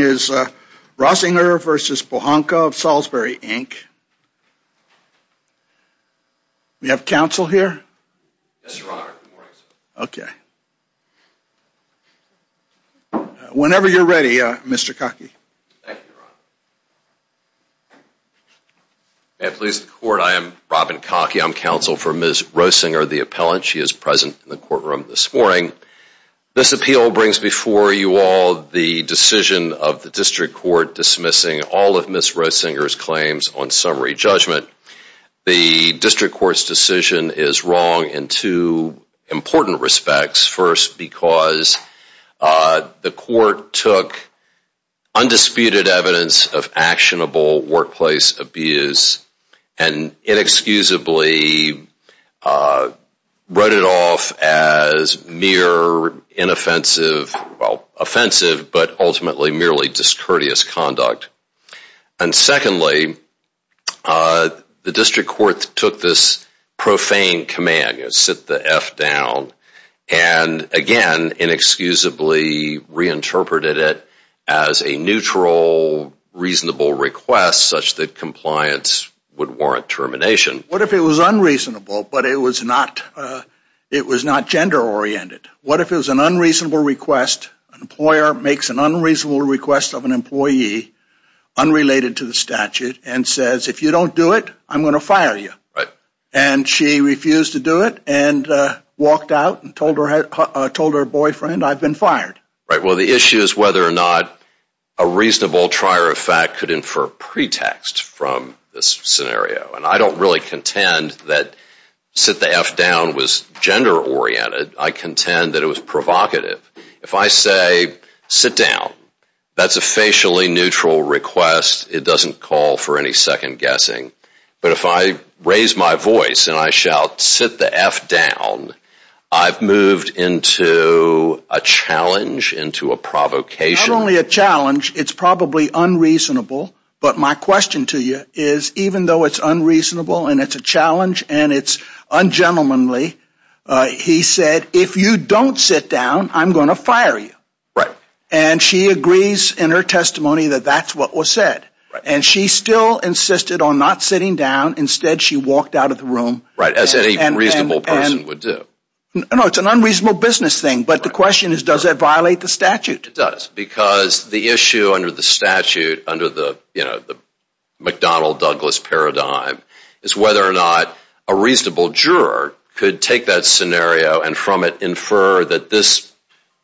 Roesinger v. Pohanka of Salisbury, Inc. We have counsel here? Okay Whenever you're ready, Mr. Cockey. May it please the court, I am Robin Cockey. I'm counsel for Ms. Roesinger, the appellant. She is present in the courtroom this morning. This appeal brings before you all the decision of the district court dismissing all of Ms. Roesinger's claims on summary judgment. The district court's decision is wrong in two important respects. First, because the court took undisputed evidence of actionable workplace abuse and inexcusably wrote it off as mere inoffensive, well offensive, but ultimately merely discourteous conduct. And secondly the district court took this profane command, sit the F down, and again inexcusably reinterpreted it as a neutral reasonable request such that compliance would warrant termination. What if it was unreasonable, but it was not gender-oriented? What if it was an unreasonable request? An employer makes an unreasonable request of an employee unrelated to the statute and says if you don't do it, I'm gonna fire you. Right. And she refused to do it and walked out and told her, told her boyfriend, I've been fired. Right, well the issue is whether or not a reasonable trier of fact could infer pretext from this scenario, and I don't really contend that sit-the-F-down was gender-oriented. I contend that it was provocative. If I say sit down, that's a facially neutral request. It doesn't call for any second-guessing. But if I raise my voice and I shout sit the F down, I've moved into a challenge, into a provocation. Not only a challenge, it's probably unreasonable, but my question to you is even though it's unreasonable and it's a challenge and it's ungentlemanly, he said if you don't sit down, I'm gonna fire you. Right. And she agrees in her testimony that that's what was said. And she still insisted on not sitting down. Instead, she walked out of the room. Right, as any reasonable person would do. No, it's an unreasonable business thing. But the question is does that violate the statute? It does because the issue under the statute, under the, you know, the McDonnell-Douglas paradigm, is whether or not a reasonable juror could take that scenario and from it infer that this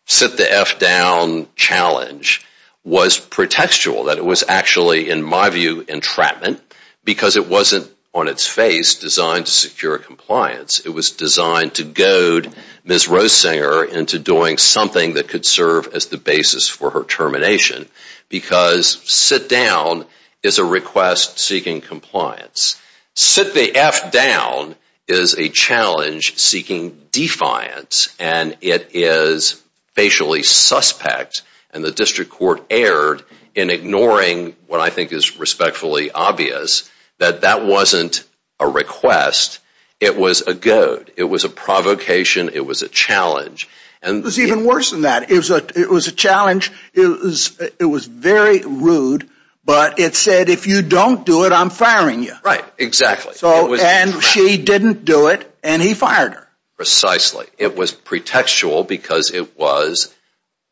sit-the-F-down challenge was pretextual. That it was actually, in my view, entrapment because it wasn't, on its face, designed to secure compliance. It was designed to goad Ms. Roessinger into doing something that could serve as the basis for her termination. Because sit-down is a request seeking compliance. Sit-the-F-down is a challenge seeking defiance and it is facially suspect and the district court erred in ignoring what I think is respectfully obvious that that wasn't a request. It was a goad. It was a provocation. It was a challenge. It was even worse than that. It was a challenge. It was very rude, but it said if you don't do it, I'm firing you. Right, exactly. So, and she didn't do it and he fired her. Precisely. It was pretextual because it was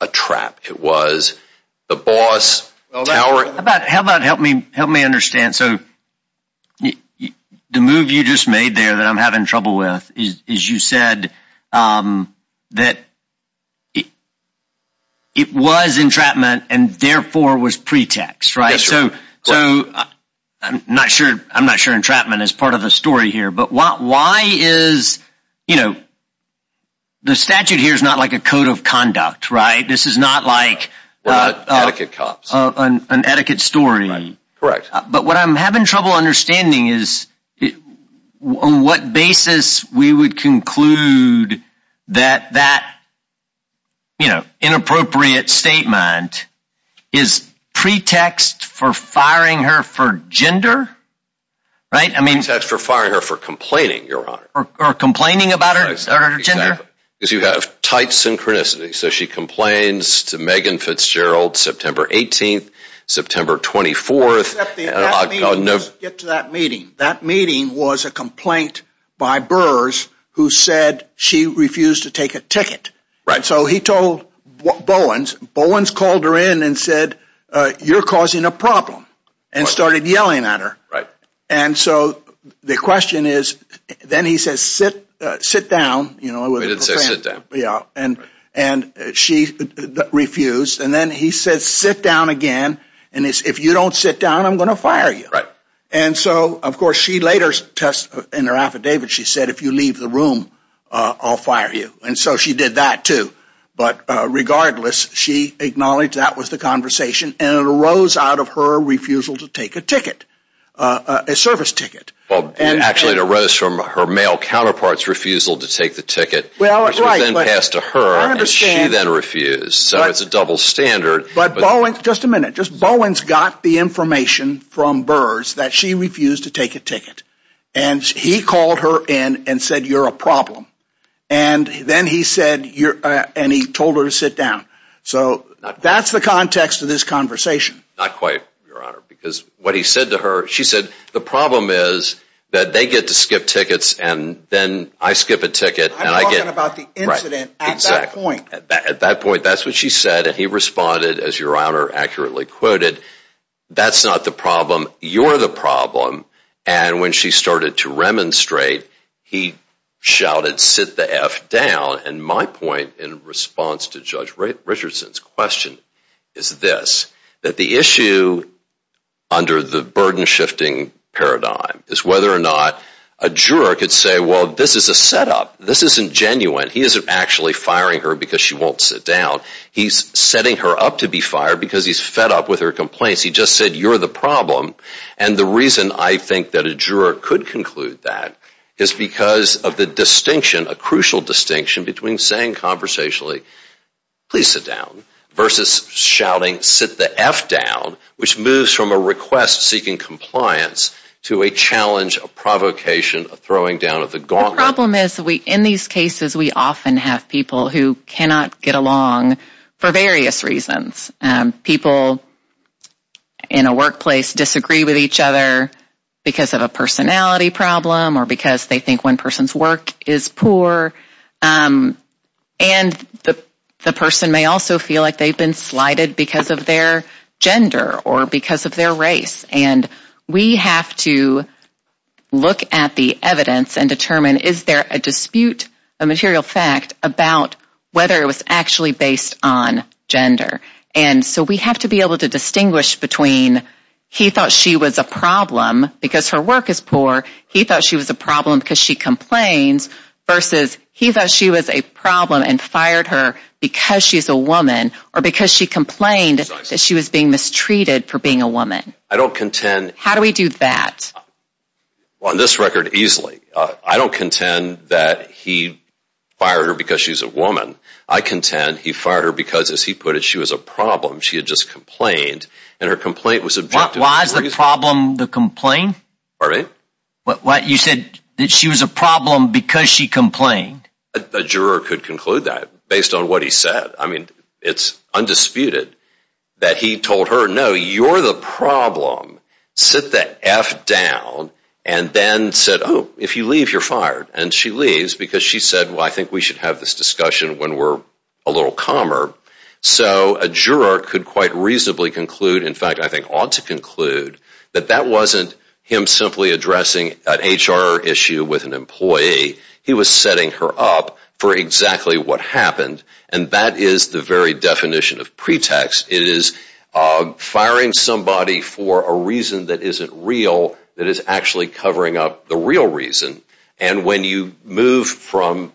a trap. It was the boss towering. How about, help me, help me understand. So the move you just made there that I'm having trouble with is you said that it it was entrapment and therefore was pretext, right? So, so I'm not sure, I'm not sure entrapment is part of the story here, but why is, you know, the statute here is not like a code of conduct, right? This is not like an etiquette story. Correct. But what I'm having trouble understanding is on what basis we would conclude that that you know, inappropriate statement is pretext for firing her for gender. Right, I mean. Pretext for firing her for complaining, your honor. Or complaining about her gender. Because you have tight synchronicity. So she complains to Megan Fitzgerald September 18th, September 24th. Except the, that meeting, let's get to that meeting. That meeting was a complaint by Burrs who said she refused to take a ticket. Right. So he told Bowens, Bowens called her in and said, you're causing a problem and started yelling at her. Right. And so the question is, then he says sit, sit down, you know. He didn't say sit down. Yeah, and, and she refused and then he says sit down again, and if you don't sit down, I'm gonna fire you. Right. And so, of course, she later test, in her affidavit, she said if you leave the room I'll fire you. And so she did that too. But regardless, she acknowledged that was the conversation and it arose out of her refusal to take a ticket, a service ticket. Well, and actually it arose from her male counterpart's refusal to take the ticket, which was then passed to her, and she then refused. So it's a double standard. But Bowens, just a minute, just Bowens got the information from Burrs that she refused to take a ticket and he called her in and said you're a problem and then he said you're, and he told her to sit down. So that's the context of this conversation. Not quite, Your Honor, because what he said to her, she said the problem is that they get to skip tickets and then I skip a ticket. I'm talking about the incident at that point. At that point, that's what she said and he responded, as Your Honor accurately quoted, that's not the problem. You're the problem. And when she started to remonstrate, he shouted, sit the F down. And my point in response to Judge Richardson's question is this, that the issue under the burden shifting paradigm is whether or not a juror could say, well, this is a setup. This isn't genuine. He isn't actually firing her because she won't sit down. He's setting her up to be fired because he's fed up with her complaints. He just said you're the problem. And the reason I think that a juror could conclude that is because of the distinction, a crucial distinction, between saying conversationally, please sit down, versus shouting sit the F down, which moves from a request seeking compliance to a challenge, a provocation, a throwing down of the gauntlet. The problem is, in these cases, we often have people who cannot get along for various reasons. People in a workplace disagree with each other because of a personality problem or because they think one person's work is poor. And the person may also feel like they've been slighted because of their gender or because of their race. And we have to look at the evidence and determine, is there a dispute, a material fact, about whether it was actually based on gender? And so we have to be able to distinguish between he thought she was a problem because her work is poor. He thought she was a problem because she complains. Versus he thought she was a problem and fired her because she's a woman or because she complained that she was being mistreated for being a woman. I don't contend. How do we do that? On this record, easily. I don't contend that he fired her because she's a woman. I contend he fired her because, as he put it, she was a problem. She had just complained and her complaint was objective. Why is the problem the complaint? Pardon me? But what you said that she was a problem because she complained. A juror could conclude that based on what he said. I mean, it's If you're the problem, sit the F down and then said, oh, if you leave, you're fired. And she leaves because she said, well, I think we should have this discussion when we're a little calmer. So a juror could quite reasonably conclude, in fact, I think ought to conclude, that that wasn't him simply addressing an HR issue with an employee. He was setting her up for exactly what happened. And that is the very definition of pretext. It is firing somebody for a reason that isn't real, that is actually covering up the real reason. And when you move from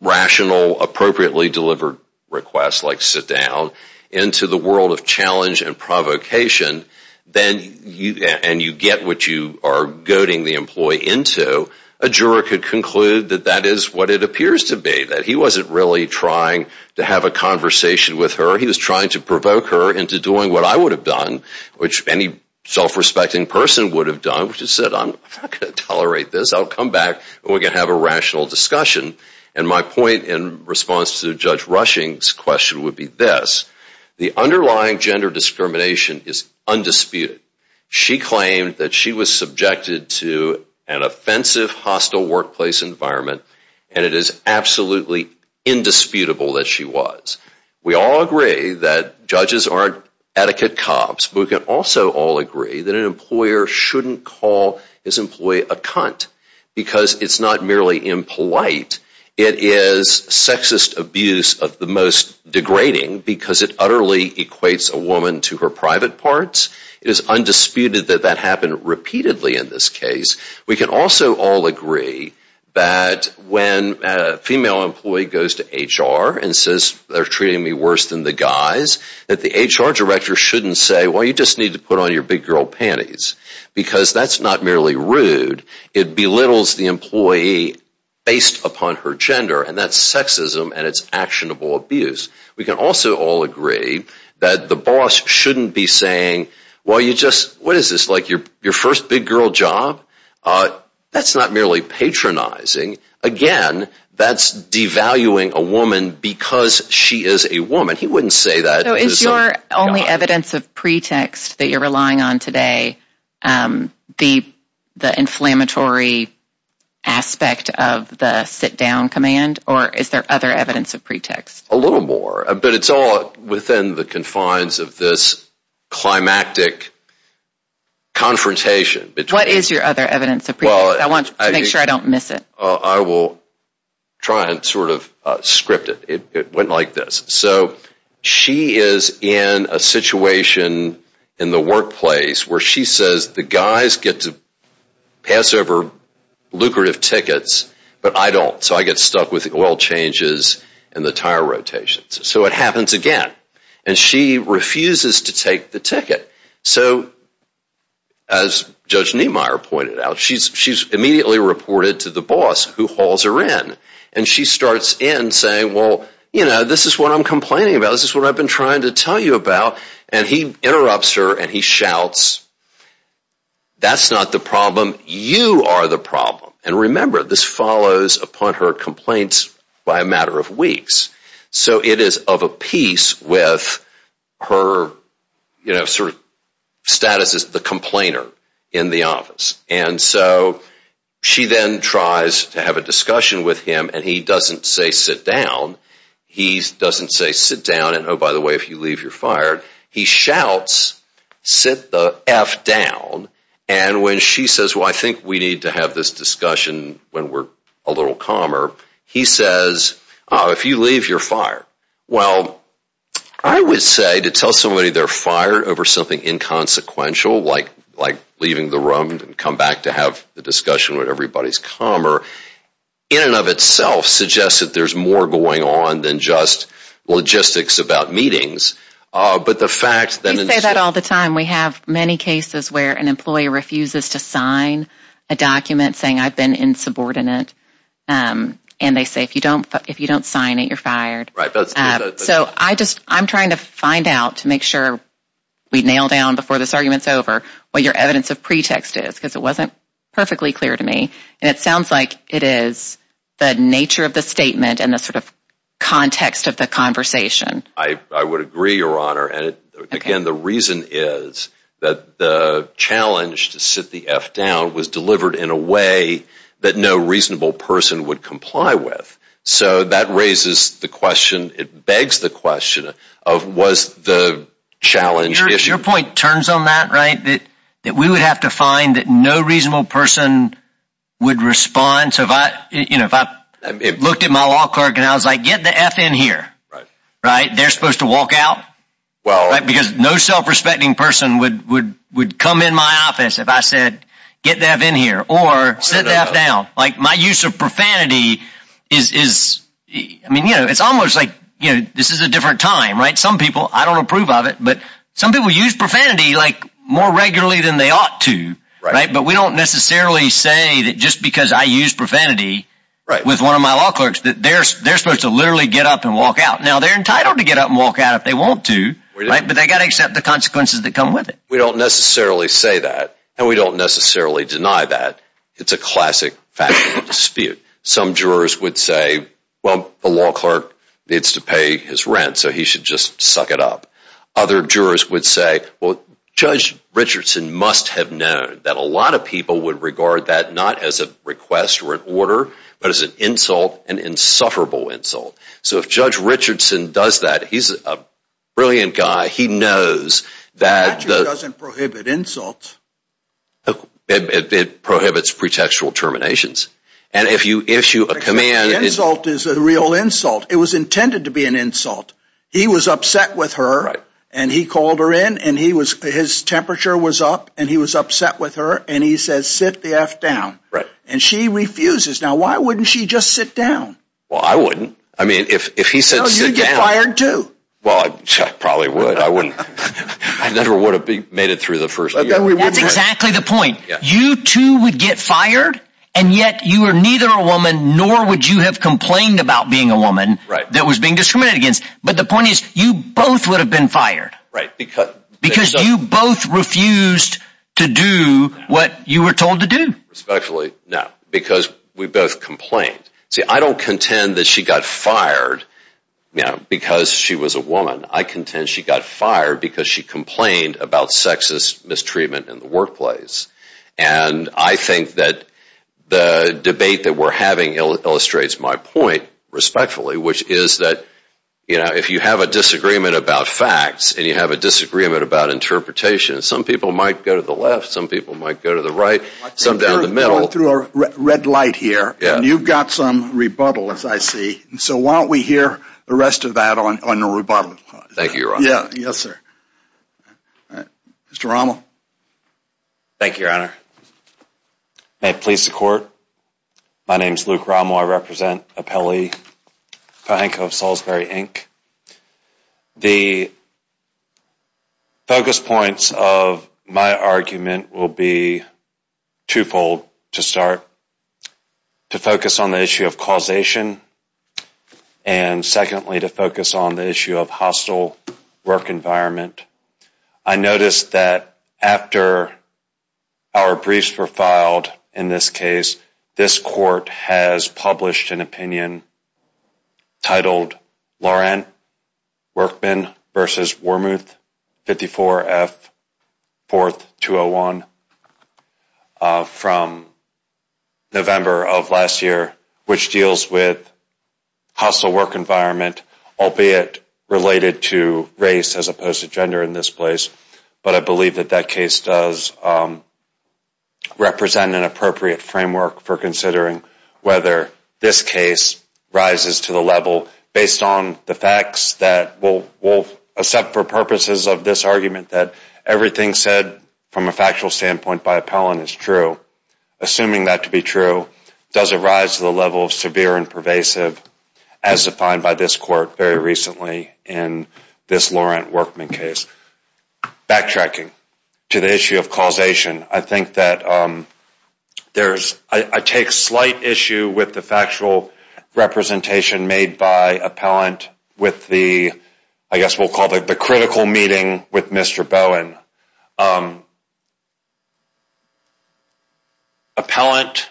rational, appropriately delivered requests, like sit down, into the world of challenge and provocation, then you and you get what you are goading the employee into. A juror could conclude that that is what it appears to be. That he wasn't really trying to have a conversation with her. He was trying to provoke her into doing what I would have done, which any self-respecting person would have done, which is sit down. I'm not going to tolerate this. I'll come back, and we can have a rational discussion. And my point in response to Judge Rushing's question would be this. The underlying gender discrimination is undisputed. She claimed that she was subjected to an offensive, hostile workplace environment, and it is absolutely indisputable that she was. We all agree that judges aren't etiquette cops, but we can also all agree that an employer shouldn't call his employee a cunt, because it's not merely impolite. It is sexist abuse of the most degrading, because it utterly equates a woman to her private parts. It is undisputed that that happened repeatedly in this case. We can also all agree that when a female employee goes to HR and says they're treating me worse than the guys, that the HR director shouldn't say, well, you just need to put on your big-girl panties, because that's not merely rude. It belittles the employee based upon her gender, and that's sexism and it's actionable abuse. We can also all agree that the boss shouldn't be saying, well, you just, what is this, like your first big-girl job? That's not merely patronizing. Again, that's devaluing a woman because she is a woman. He wouldn't say that. So is your only evidence of pretext that you're relying on today the inflammatory aspect of the sit-down command, or is there other evidence of pretext? A little more, but it's all within the confines of this climactic confrontation. What is your other evidence of pretext? I want to make sure I don't miss it. I will try and sort of script it. It went like this. So she is in a situation in the workplace where she says the guys get to pass over lucrative tickets, but I don't, so I get stuck with the oil changes and the tire rotations. So it happens again, and she refuses to take the ticket. So as Judge Niemeyer pointed out, she's immediately reported to the boss who hauls her in, and she starts in saying, well, you know, this is what I'm complaining about. This is what I've been trying to tell you about, and he interrupts her and he shouts, that's not the problem. You are the problem. And remember, this follows upon her complaints by a matter of weeks. So it is of a piece with her, you know, sort of status as the complainer in the office. And so she then tries to have a discussion with him, and he doesn't say sit down. He doesn't say sit down, and oh, by the way, if you leave, you're fired. He shouts, sit the F down, and when she says, well, I think we need to have this discussion when we're a little calmer, he says, if you leave, you're fired. Well, I would say to tell somebody they're fired over something inconsequential, like leaving the room and come back to have the discussion with everybody's calmer, in and of itself suggests that there's more going on than just logistics about meetings. But the fact that... We say that all the time. We have many cases where an employee refuses to sign a document saying I've been insubordinate. And they say if you don't sign it, you're fired. So I just I'm trying to find out to make sure we nail down before this argument's over what your evidence of pretext is because it wasn't perfectly clear to me, and it sounds like it is the nature of the statement and the sort of context of the conversation. I would agree, Your Honor, and again, the reason is that the reasonable person would comply with. So that raises the question, it begs the question, of was the challenge issued? Your point turns on that, right? That we would have to find that no reasonable person would respond. So if I, you know, if I looked at my law clerk and I was like, get the F in here, right? They're supposed to walk out? Well... Right? Because no self-respecting person would come in my office if I said, get the F in here or sit the F down. Like my use of profanity is, I mean, you know, it's almost like, you know, this is a different time, right? Some people, I don't approve of it, but some people use profanity like more regularly than they ought to, right? But we don't necessarily say that just because I use profanity with one of my law clerks that they're supposed to literally get up and walk out. Now, they're entitled to get up and walk out if they want to, right? But they got to accept the consequences that come with it. We don't necessarily say that, and we don't necessarily deny that. It's a classic factual dispute. Some jurors would say, well, the law clerk needs to pay his rent, so he should just suck it up. Other jurors would say, well, Judge Richardson must have known that a lot of people would regard that not as a request or an order, but as an insult, an insufferable insult. So if Judge Richardson does that, he's a It doesn't prohibit insults. It prohibits pretextual terminations, and if you issue a command... An insult is a real insult. It was intended to be an insult. He was upset with her, and he called her in, and he was, his temperature was up, and he was upset with her, and he says, sit the F down. Right. And she refuses. Now, why wouldn't she just sit down? Well, I wouldn't. I mean, if he said sit down... No, you'd get fired too. Well, I probably would. I wouldn't. I never would have made it through the first year. That's exactly the point. You, too, would get fired, and yet you were neither a woman, nor would you have complained about being a woman that was being discriminated against. But the point is, you both would have been fired. Right, because... Because you both refused to do what you were told to do. Respectfully, no, because we both complained. See, I don't contend that she got fired, you know, because she was a woman. I contend she got fired because she complained about sexist mistreatment in the workplace, and I think that the debate that we're having illustrates my point, respectfully, which is that, you know, if you have a disagreement about facts, and you have a disagreement about interpretation, some people might go to the left, some people might go to the right, some down the middle... So why don't we hear the rest of that on the rebuttal? Thank you, Your Honor. Yes, sir. Mr. Rommel. Thank you, Your Honor. May it please the Court, my name is Luke Rommel. I represent Appellee Cahenco of Salisbury, Inc. The focus points of my argument will be twofold to start. To focus on the issue of causation, and secondly to focus on the issue of hostile work environment. I noticed that after our briefs were filed in this case, this court has published an opinion titled Laurent Workman vs. Wormuth 54 F 4th 201 from November of last year, which deals with hostile work environment, albeit related to race as opposed to gender in this place, but I believe that that case does represent an appropriate framework for considering whether this case rises to the level based on the facts that will accept for purposes of this argument that everything said from a factual standpoint by appellant is true. Assuming that to be true, does it rise to the level of severe and pervasive as defined by this court very recently in this Laurent Workman case? Backtracking to the issue of causation, I think that there's, I take slight issue with the factual representation made by appellant with the, I guess we'll call it, the critical meeting with Mr. Bowen. Appellant,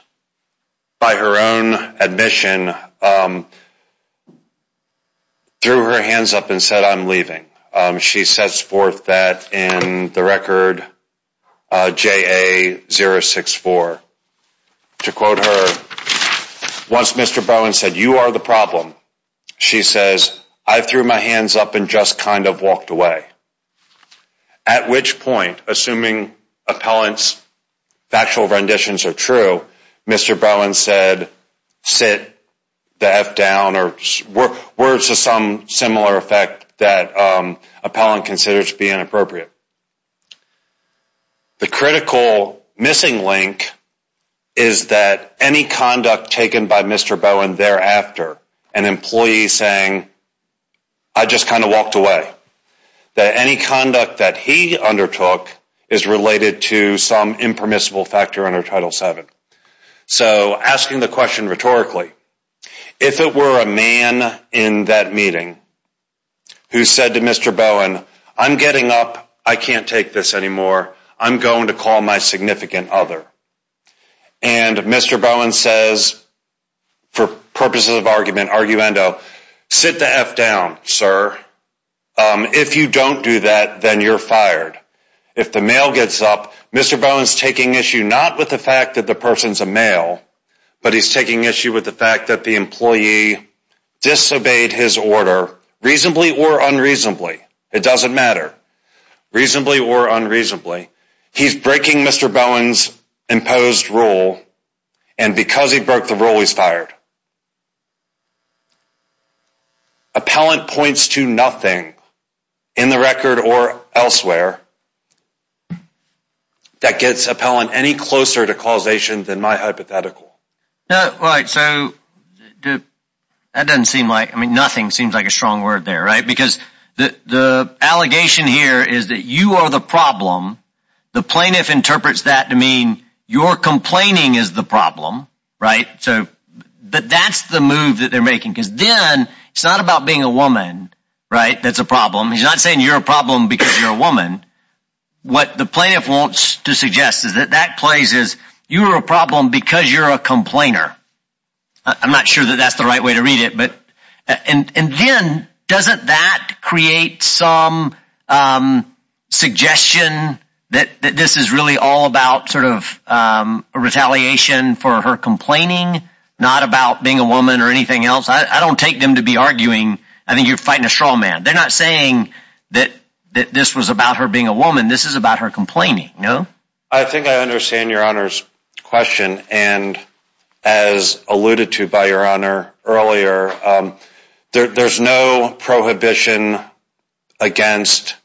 by her own admission, threw her hands up and said, I'm leaving. She sets forth that in the record JA064. To quote her, once Mr. Bowen said, you are the problem, she says, I threw my hands up and just kind of walked away. At which point, assuming appellant's factual renditions are true, Mr. Bowen said, sit the F down or words to some similar effect that appellant considers to be inappropriate. The critical missing link is that any conduct taken by Mr. Bowen thereafter, an employee saying, I just kind of walked away, that any conduct that he undertook is related to some impermissible factor under Title 7. So asking the question rhetorically, if it were a man in that meeting who said to Mr. Bowen, I'm getting up. I can't take this anymore. I'm going to call my significant other. And Mr. Bowen says, for purposes of argument, arguendo, sit the F down, sir. If you don't do that, then you're fired. If the mail gets up, Mr. Bowen's taking issue not with the fact that the person's a male, but he's taking issue with the fact that the employee disobeyed his order, reasonably or unreasonably. It doesn't matter. Reasonably or unreasonably. He's breaking Mr. Bowen's imposed rule and because he broke the rule, he's fired. Appellant points to nothing in the record or elsewhere that gets appellant any closer to causation than my hypothetical. No, right, so that doesn't seem like, I mean, nothing seems like a strong word there, right? Because the allegation here is that you are the problem, the plaintiff interprets that to mean you're complaining is the problem, right? But that's the move that they're making because then it's not about being a woman, right? That's a problem. He's not saying you're a problem because you're a woman. What the plaintiff wants to suggest is that that plays as you're a problem because you're a complainer. I'm not sure that that's the right way to read it, but and then doesn't that create some suggestion that this is really all about sort of retaliation for her complaining, not about being a woman or anything else? I don't take them to be arguing. I think you're fighting a straw man. They're not saying that that this was about her being a woman. This is about her complaining, no? I think I understand your honor's question and as alluded to by your honor earlier there's no prohibition against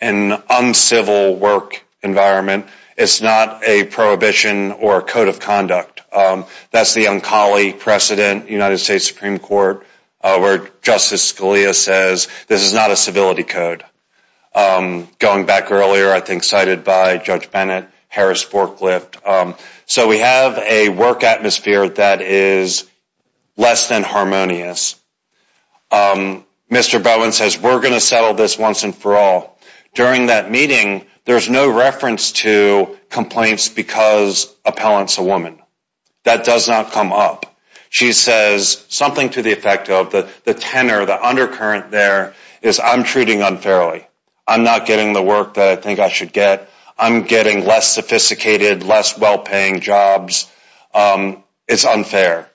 an uncivil work environment. It's not a prohibition or a code of conduct. That's the uncali precedent, United States Supreme Court, where Justice Scalia says this is not a civility code. Going back earlier, I think cited by Judge Bennett, Harris forklift. So we have a work atmosphere that is less than harmonious. Mr. Bowen says we're gonna settle this once and for all. During that meeting there's no reference to complaints because appellant's a woman. That does not come up. She says something to the effect of the tenor, the undercurrent there, is I'm treating unfairly. I'm not getting the work that I think I should get. I'm getting less sophisticated, less well-paying jobs. It's unfair.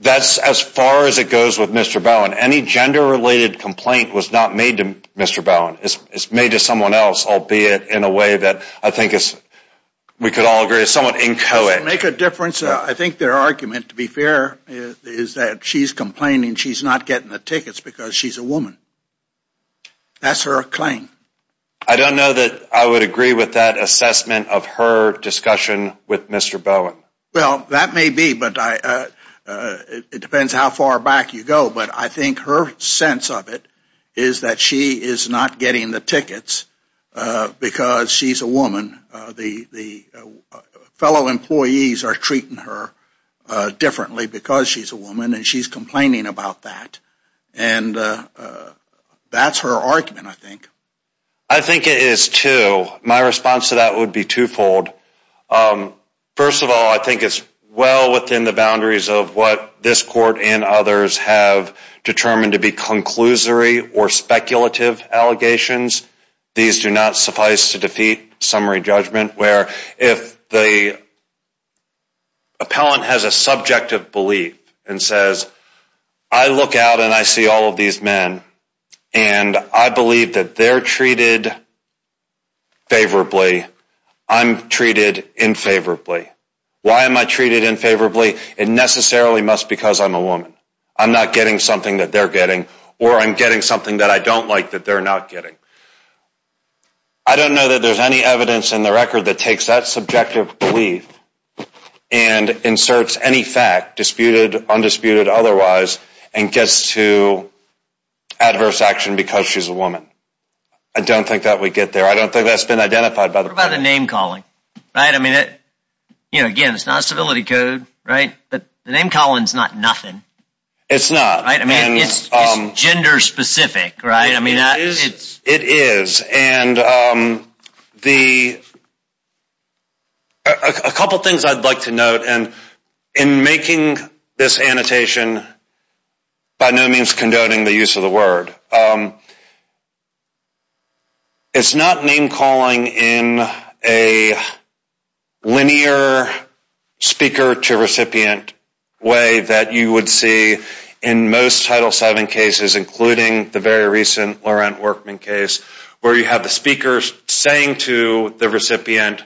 That's as far as it goes with Mr. Bowen. Any gender-related complaint was not made to Mr. Bowen. It's made to someone else, albeit in a way that I think is, we could all agree, is somewhat inchoate. Make a difference. I think their argument, to be fair, is that she's complaining she's not getting the tickets because she's a woman. That's her claim. I don't know that I would agree with that assessment of her discussion with Mr. Bowen. Well, that may be, but I, it depends how far back you go, but I think her sense of it is that she is not getting the tickets because she's a woman. The fellow employees are treating her differently because she's a woman, and she's complaining about that. And that's her argument, I think. I think it is, too. My response to that would be twofold. First of all, I think it's well within the boundaries of what this court and others have determined to be conclusory or speculative allegations. These do not suffice to defeat summary judgment, where if the appellant has a subjective belief and says, I look out and I see all of these men and I believe that they're treated favorably, I'm treated infavorably. Why am I treated in favorably? It necessarily must because I'm a woman. I'm not getting something that they're getting or I'm getting something that I don't like that they're not getting. I don't know that there's any evidence in the record that takes that subjective belief and inserts any fact, disputed, undisputed, otherwise, and gets to adverse action because she's a woman. I don't think that we get there. I don't think that's been identified by the name-calling, right? I mean it, you know, again, it's not a civility code, right? But the name-calling is not nothing. It's not, right? I mean, it's gender-specific, right? I mean, it is, and the couple things I'd like to note, and in making this annotation, by no means condoning the use of the word, it's not name-calling in a linear speaker-to-recipient way that you would see in most Title VII cases, including the very recent Laurent Workman case, where you have the speakers saying to the recipient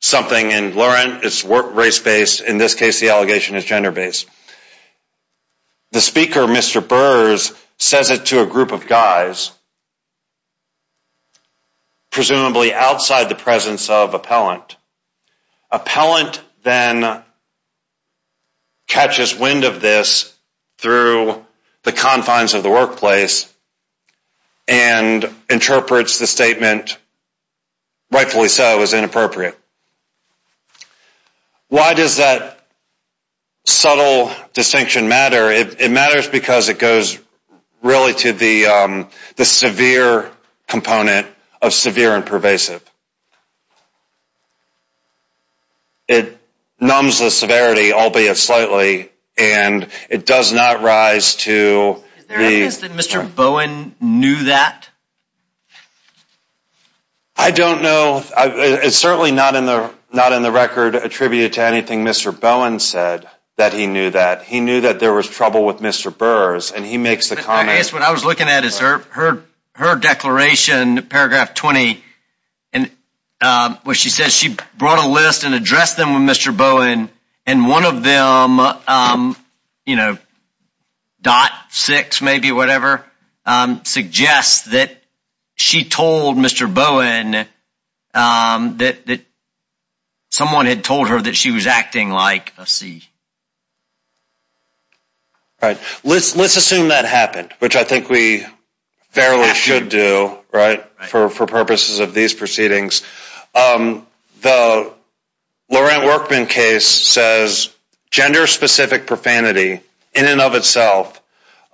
something, and Laurent is race-based. In this case, the allegation is gender-based. The speaker, Mr. Burrs, says it to a group of guys, presumably outside the presence of appellant. Appellant then catches wind of this through the confines of the workplace and interprets the statement, rightfully so, as inappropriate. Why does that subtle distinction matter? It matters because it goes really to the severe component of severe and pervasive. It numbs the severity, albeit slightly, and it does not rise to the... Is there evidence that Mr. Bowen knew that? I don't know. It's certainly not in the record attributed to anything Mr. Bowen knew that. He knew that there was trouble with Mr. Burrs, and he makes the comment... I guess what I was looking at is her declaration, paragraph 20, and where she says she brought a list and addressed them with Mr. Bowen, and one of them, you know, dot six, maybe, whatever, suggests that she told Mr. Bowen that someone had told her that she was acting like a C. All right, let's assume that happened, which I think we fairly should do, right, for purposes of these proceedings. The Laurent Workman case says gender-specific profanity, in and of itself,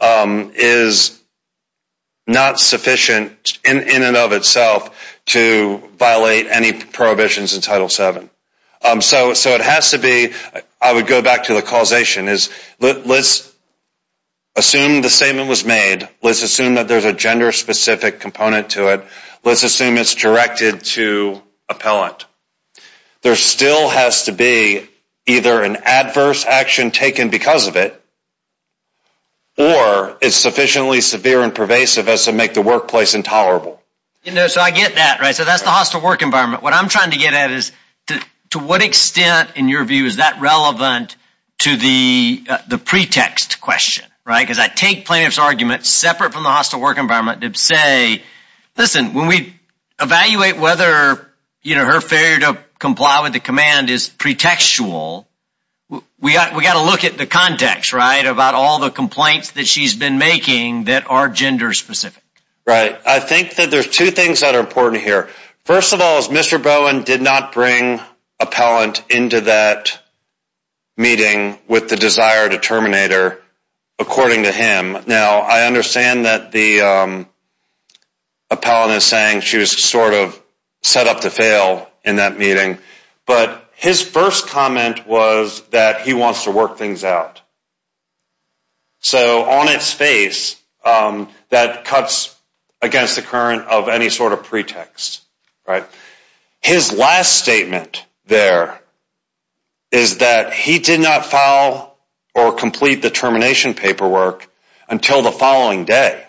is not sufficient, in and of itself, to violate any prohibitions in Title VII. So it has to be, I would go back to the causation, is let's assume the statement was made, let's assume that there's a gender-specific component to it, let's assume it's directed to appellant. There still has to be either an adverse action taken because of it, or it's sufficiently severe and pervasive as to make the workplace intolerable. You know, so I get that, right, so that's the hostile work environment. What I'm trying to get at is, to what extent, in your view, is that relevant to the pretext question, right, because I take plaintiff's argument separate from the hostile work environment to say, listen, when we evaluate whether, you know, her failure to comply with the command is pretextual, we got to look at the context, right, about all the complaints that she's been making that are gender-specific. Right, I think that there's two things that are important here. First of all, is Mr. Bowen did not bring appellant into that meeting with the desire to terminate her, according to him. Now, I understand that the appellant is saying she was sort of set up to fail in that meeting, but his first comment was that he wants to work things out. So on its face, that cuts against the current of any sort of pretext, right. His last statement there is that he did not file or complete the termination paperwork until the following day,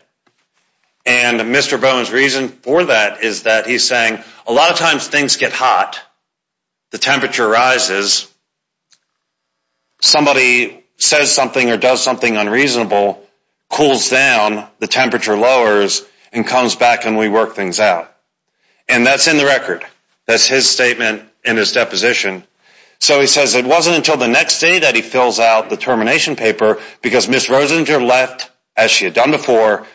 and Mr. Bowen's reason for that is that he's saying a lot of times things get hot, the temperature rises, somebody says something or does something unreasonable, cools down, the temperature lowers, and comes back and we work things out. And that's in the record. That's his statement in his deposition. So he says it wasn't until the next day that he fills out the termination paper because Ms. Rosinger left as she had done before,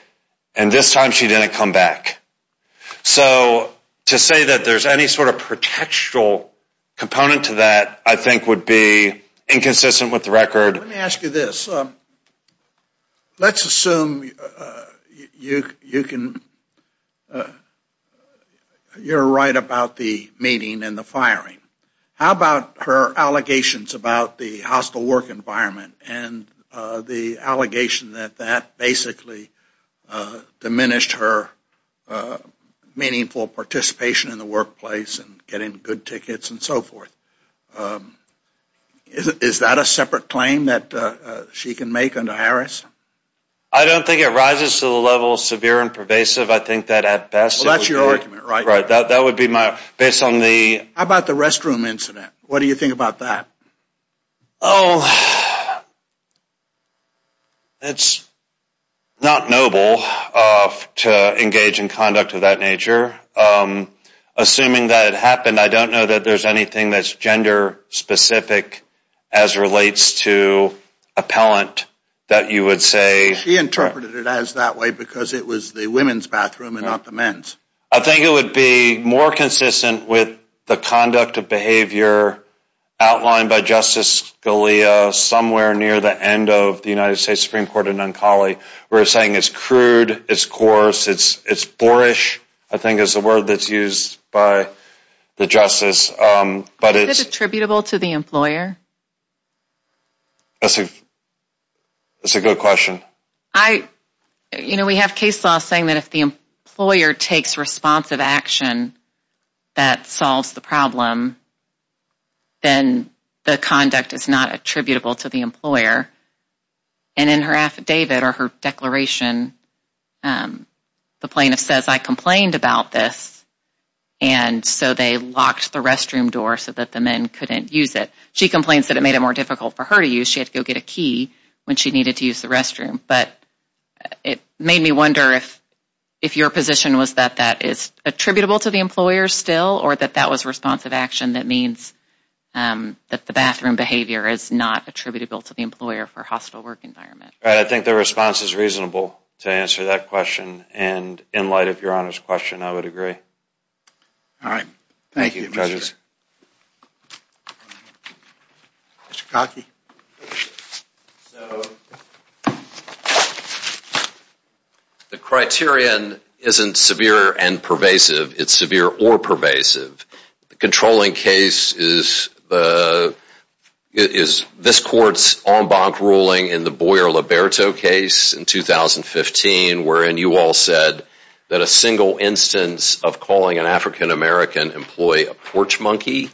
and this time she didn't come back. So to say that there's any sort of pretextual component to that I think would be inconsistent with the record. Let me ask you this. Let's assume you can you're right about the meeting and the firing. How about her allegations about the hostile work environment and the allegation that that basically diminished her meaningful participation in the workplace and getting good tickets and so forth? Is that a separate claim that she can make under Harris? I don't think it rises to the level of severe and pervasive. I think that at best... Well, that's your argument, right? Right. That would be my... based on the... How about the restroom incident? What do you think about that? It's not noble to engage in conduct of that nature. Assuming that it happened, I don't know that there's anything that's gender specific as relates to appellant that you would say... She interpreted it as that way because it was the women's bathroom and not the men's. I think it would be more consistent with the conduct of behavior outlined by Justice Scalia somewhere near the end of the United States Supreme Court in Noncali. We're saying it's crude, it's coarse, it's it's boorish. I think is the word that's used by the justice, but it's... Is it attributable to the employer? That's a that's a good question. You know, we have case law saying that if the employer takes responsive action that solves the problem, then the conduct is not attributable to the employer. And in her affidavit or her declaration, the plaintiff says, I complained about this and so they locked the restroom door so that the men couldn't use it. She complains that it made it more difficult for her to use. She had to go get a key when she needed to use the restroom, but it made me wonder if if your position was that that is responsive action that means that the bathroom behavior is not attributable to the employer for hostile work environment. I think the response is reasonable to answer that question and in light of your Honor's question, I would agree. All right. Thank you. The criterion isn't severe and pervasive. It's severe or pervasive. The controlling case is this court's en banc ruling in the Boyer-Liberto case in 2015 wherein you all said that a single instance of calling an African-American employee a porch monkey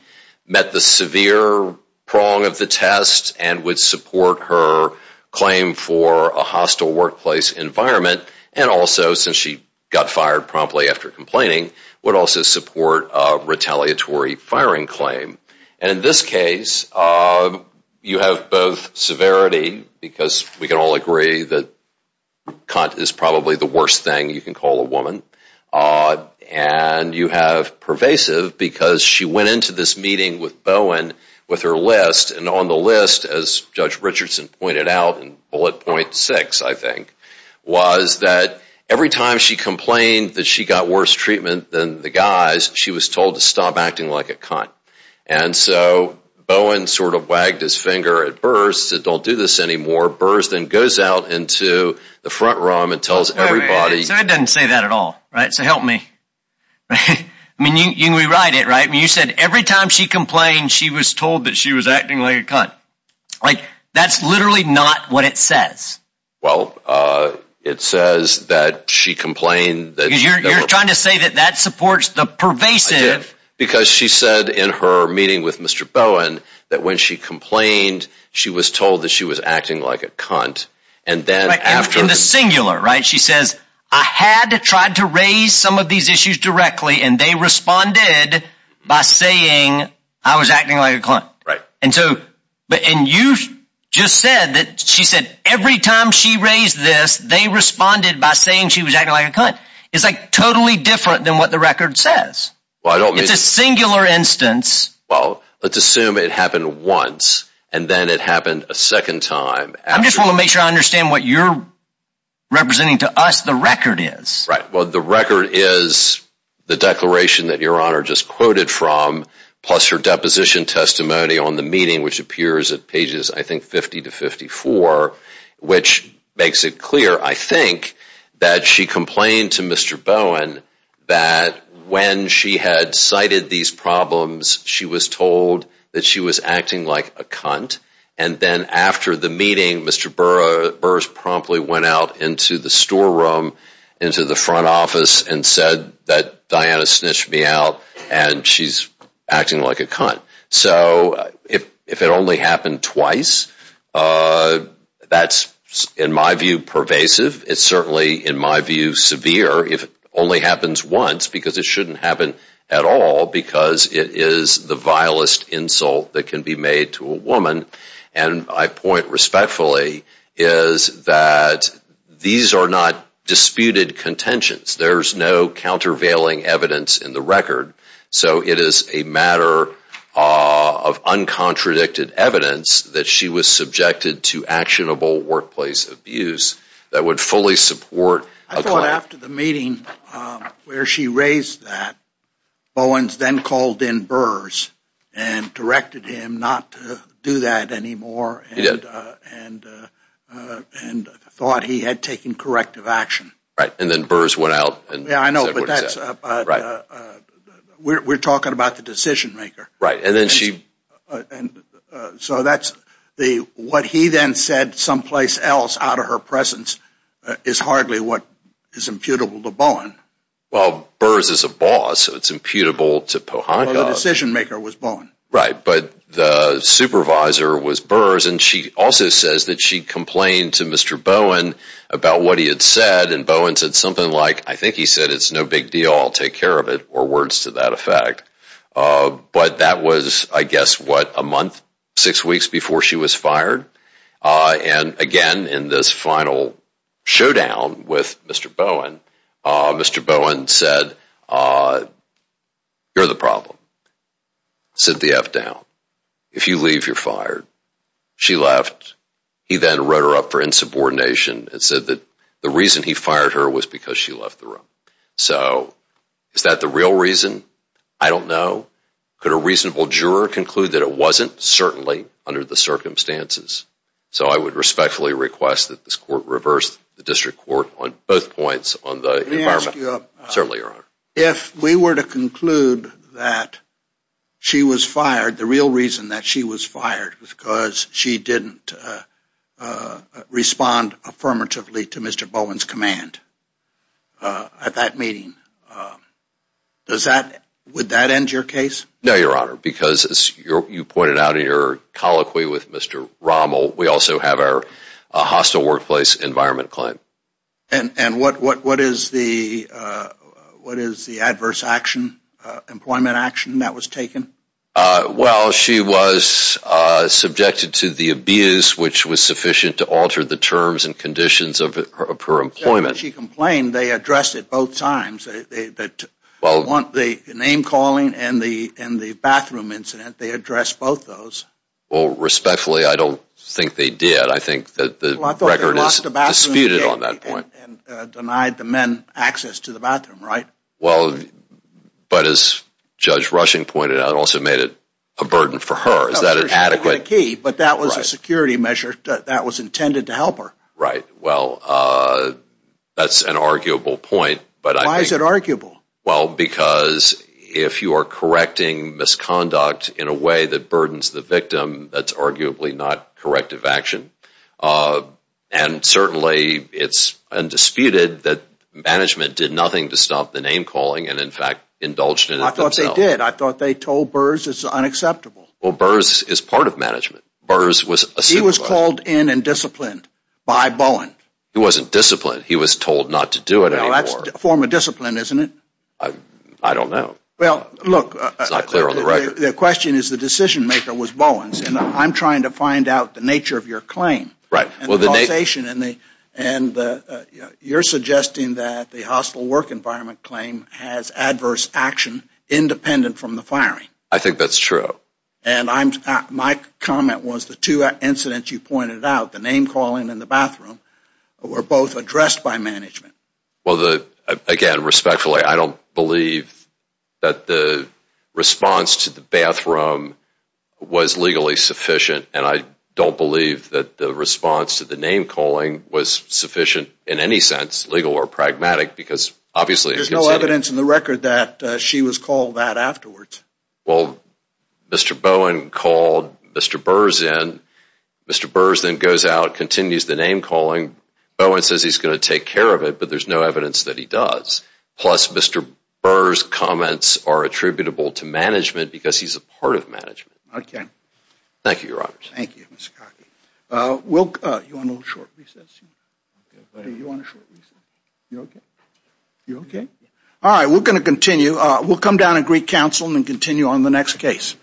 met the severe prong of the test and would support her claim for a hostile workplace environment and also since she got fired promptly after complaining, would also support a retaliatory firing claim. And in this case, you have both severity because we can all agree that cunt is probably the worst thing you can call a woman, and you have pervasive because she went into this meeting with Bowen with her list and on the list as Judge Richardson pointed out in the guys, she was told to stop acting like a cunt. And so Bowen sort of wagged his finger at Burrs, said don't do this anymore. Burrs then goes out into the front room and tells everybody... I didn't say that at all, right? So help me. Okay, I mean you rewrite it, right? You said every time she complained she was told that she was acting like a cunt. Like that's literally not what it says. Well, it says that she complained that... You're trying to say that that supports the pervasive... Because she said in her meeting with Mr. Bowen that when she complained she was told that she was acting like a cunt and then after... In the singular, right? She says I had to try to raise some of these issues directly and they responded by saying I was acting like a cunt. Right. And so, but and you just said that she said every time she raised this they responded by saying she was acting like a cunt. It's like totally different than what the record says. Well, I don't mean... It's a singular instance. Well, let's assume it happened once and then it happened a second time. I'm just want to make sure I understand what you're representing to us the record is. Right. Well, the record is the declaration that your honor just quoted from plus her deposition testimony on the meeting which appears at pages, I think 50 to 54, which makes it clear, I think, that she complained to Mr. Bowen that when she had cited these problems she was told that she was acting like a cunt and then after the meeting Mr. Burrs promptly went out into the storeroom, into the front office and said that Diana snitched me out and she's acting like a cunt. So if it only happened twice, that's in my view pervasive. It's certainly in my view severe if it only happens once because it shouldn't happen at all because it is the vilest insult that can be made to a woman and I point respectfully is that these are not disputed contentions. There's no countervailing evidence in the record. So it is a matter of uncontradicted evidence that she was subjected to actionable workplace abuse that would fully support. I thought after the meeting where she raised that Bowen's then called in Burrs and directed him not to do that anymore and thought he had taken corrective action. Right and then Burrs went out and yeah, I know but that's we're talking about the decision-maker. Right and then she so that's the what he then said someplace else out of her presence is hardly what is imputable to Bowen. Well Burrs is a boss so it's imputable to Pohanga. The decision-maker was Bowen. Right, but the she complained to Mr. Bowen about what he had said and Bowen said something like I think he said it's no big deal I'll take care of it or words to that effect. But that was I guess what a month six weeks before she was fired and again in this final showdown with Mr. Bowen, Mr. Bowen said you're the problem. She left. He then wrote her up for insubordination and said that the reason he fired her was because she left the room. So is that the real reason? I don't know. Could a reasonable juror conclude that it wasn't? Certainly under the circumstances. So I would respectfully request that this court reverse the district court on both points on the environment. Certainly, Your Honor. If we were to conclude that she was fired, the real reason that she was fired was because she didn't respond affirmatively to Mr. Bowen's command at that meeting. Does that, would that end your case? No, Your Honor, because as you pointed out in your colloquy with Mr. Rommel, we also have our hostile workplace environment claim. And what is the adverse action, employment action, that was taken? Well, she was subjected to the abuse which was sufficient to alter the terms and conditions of her employment. She complained they addressed it both times. They want the name-calling and the bathroom incident. They addressed both those. Well, respectfully, I don't think they did. I think that the record is disputed on that point. Denied the men access to the bathroom, right? Well, but as Judge Rushing pointed out, it also made it a burden for her. Is that adequate? But that was a security measure. That was intended to help her. Right. Well, that's an arguable point. But why is it arguable? Well, because if you are correcting misconduct in a way that burdens the victim, that's arguably not corrective action. And certainly, it's undisputed that management did nothing to stop the name-calling and, in fact, indulged in it. I thought they did. I thought they told Burrs it's unacceptable. Well, Burrs is part of management. Burrs was... He was called in and disciplined by Bowen. He wasn't disciplined. He was told not to do it anymore. That's a form of discipline, isn't it? I don't know. Well, look, the question is the decision-maker was Bowen's, and I'm trying to find out the nature of your claim. Right. Well, the causation and the, and you're suggesting that the hostile work environment claim has adverse action independent from the firing. I think that's true. And I'm, my comment was the two incidents you pointed out, the name-calling and the bathroom, were both addressed by management. Well, the, again, respectfully, I don't believe that the response to the bathroom was legally sufficient, and I don't believe that the response to the name-calling was sufficient in any sense, legal or pragmatic, because obviously... There's no evidence in the record that she was called that afterwards. Well, Mr. Bowen called Mr. Burrs in. Mr. Burrs then goes out, continues the name-calling. Bowen says he's going to take care of it, but there's no evidence that he does. Plus, Mr. Burr's comments are attributable to management, because he's a part of management. Okay. Thank you, your honor. Thank you, Mr. Kaki. We'll... You okay? All right, we're going to continue. We'll come down and greet counsel and continue on the next case.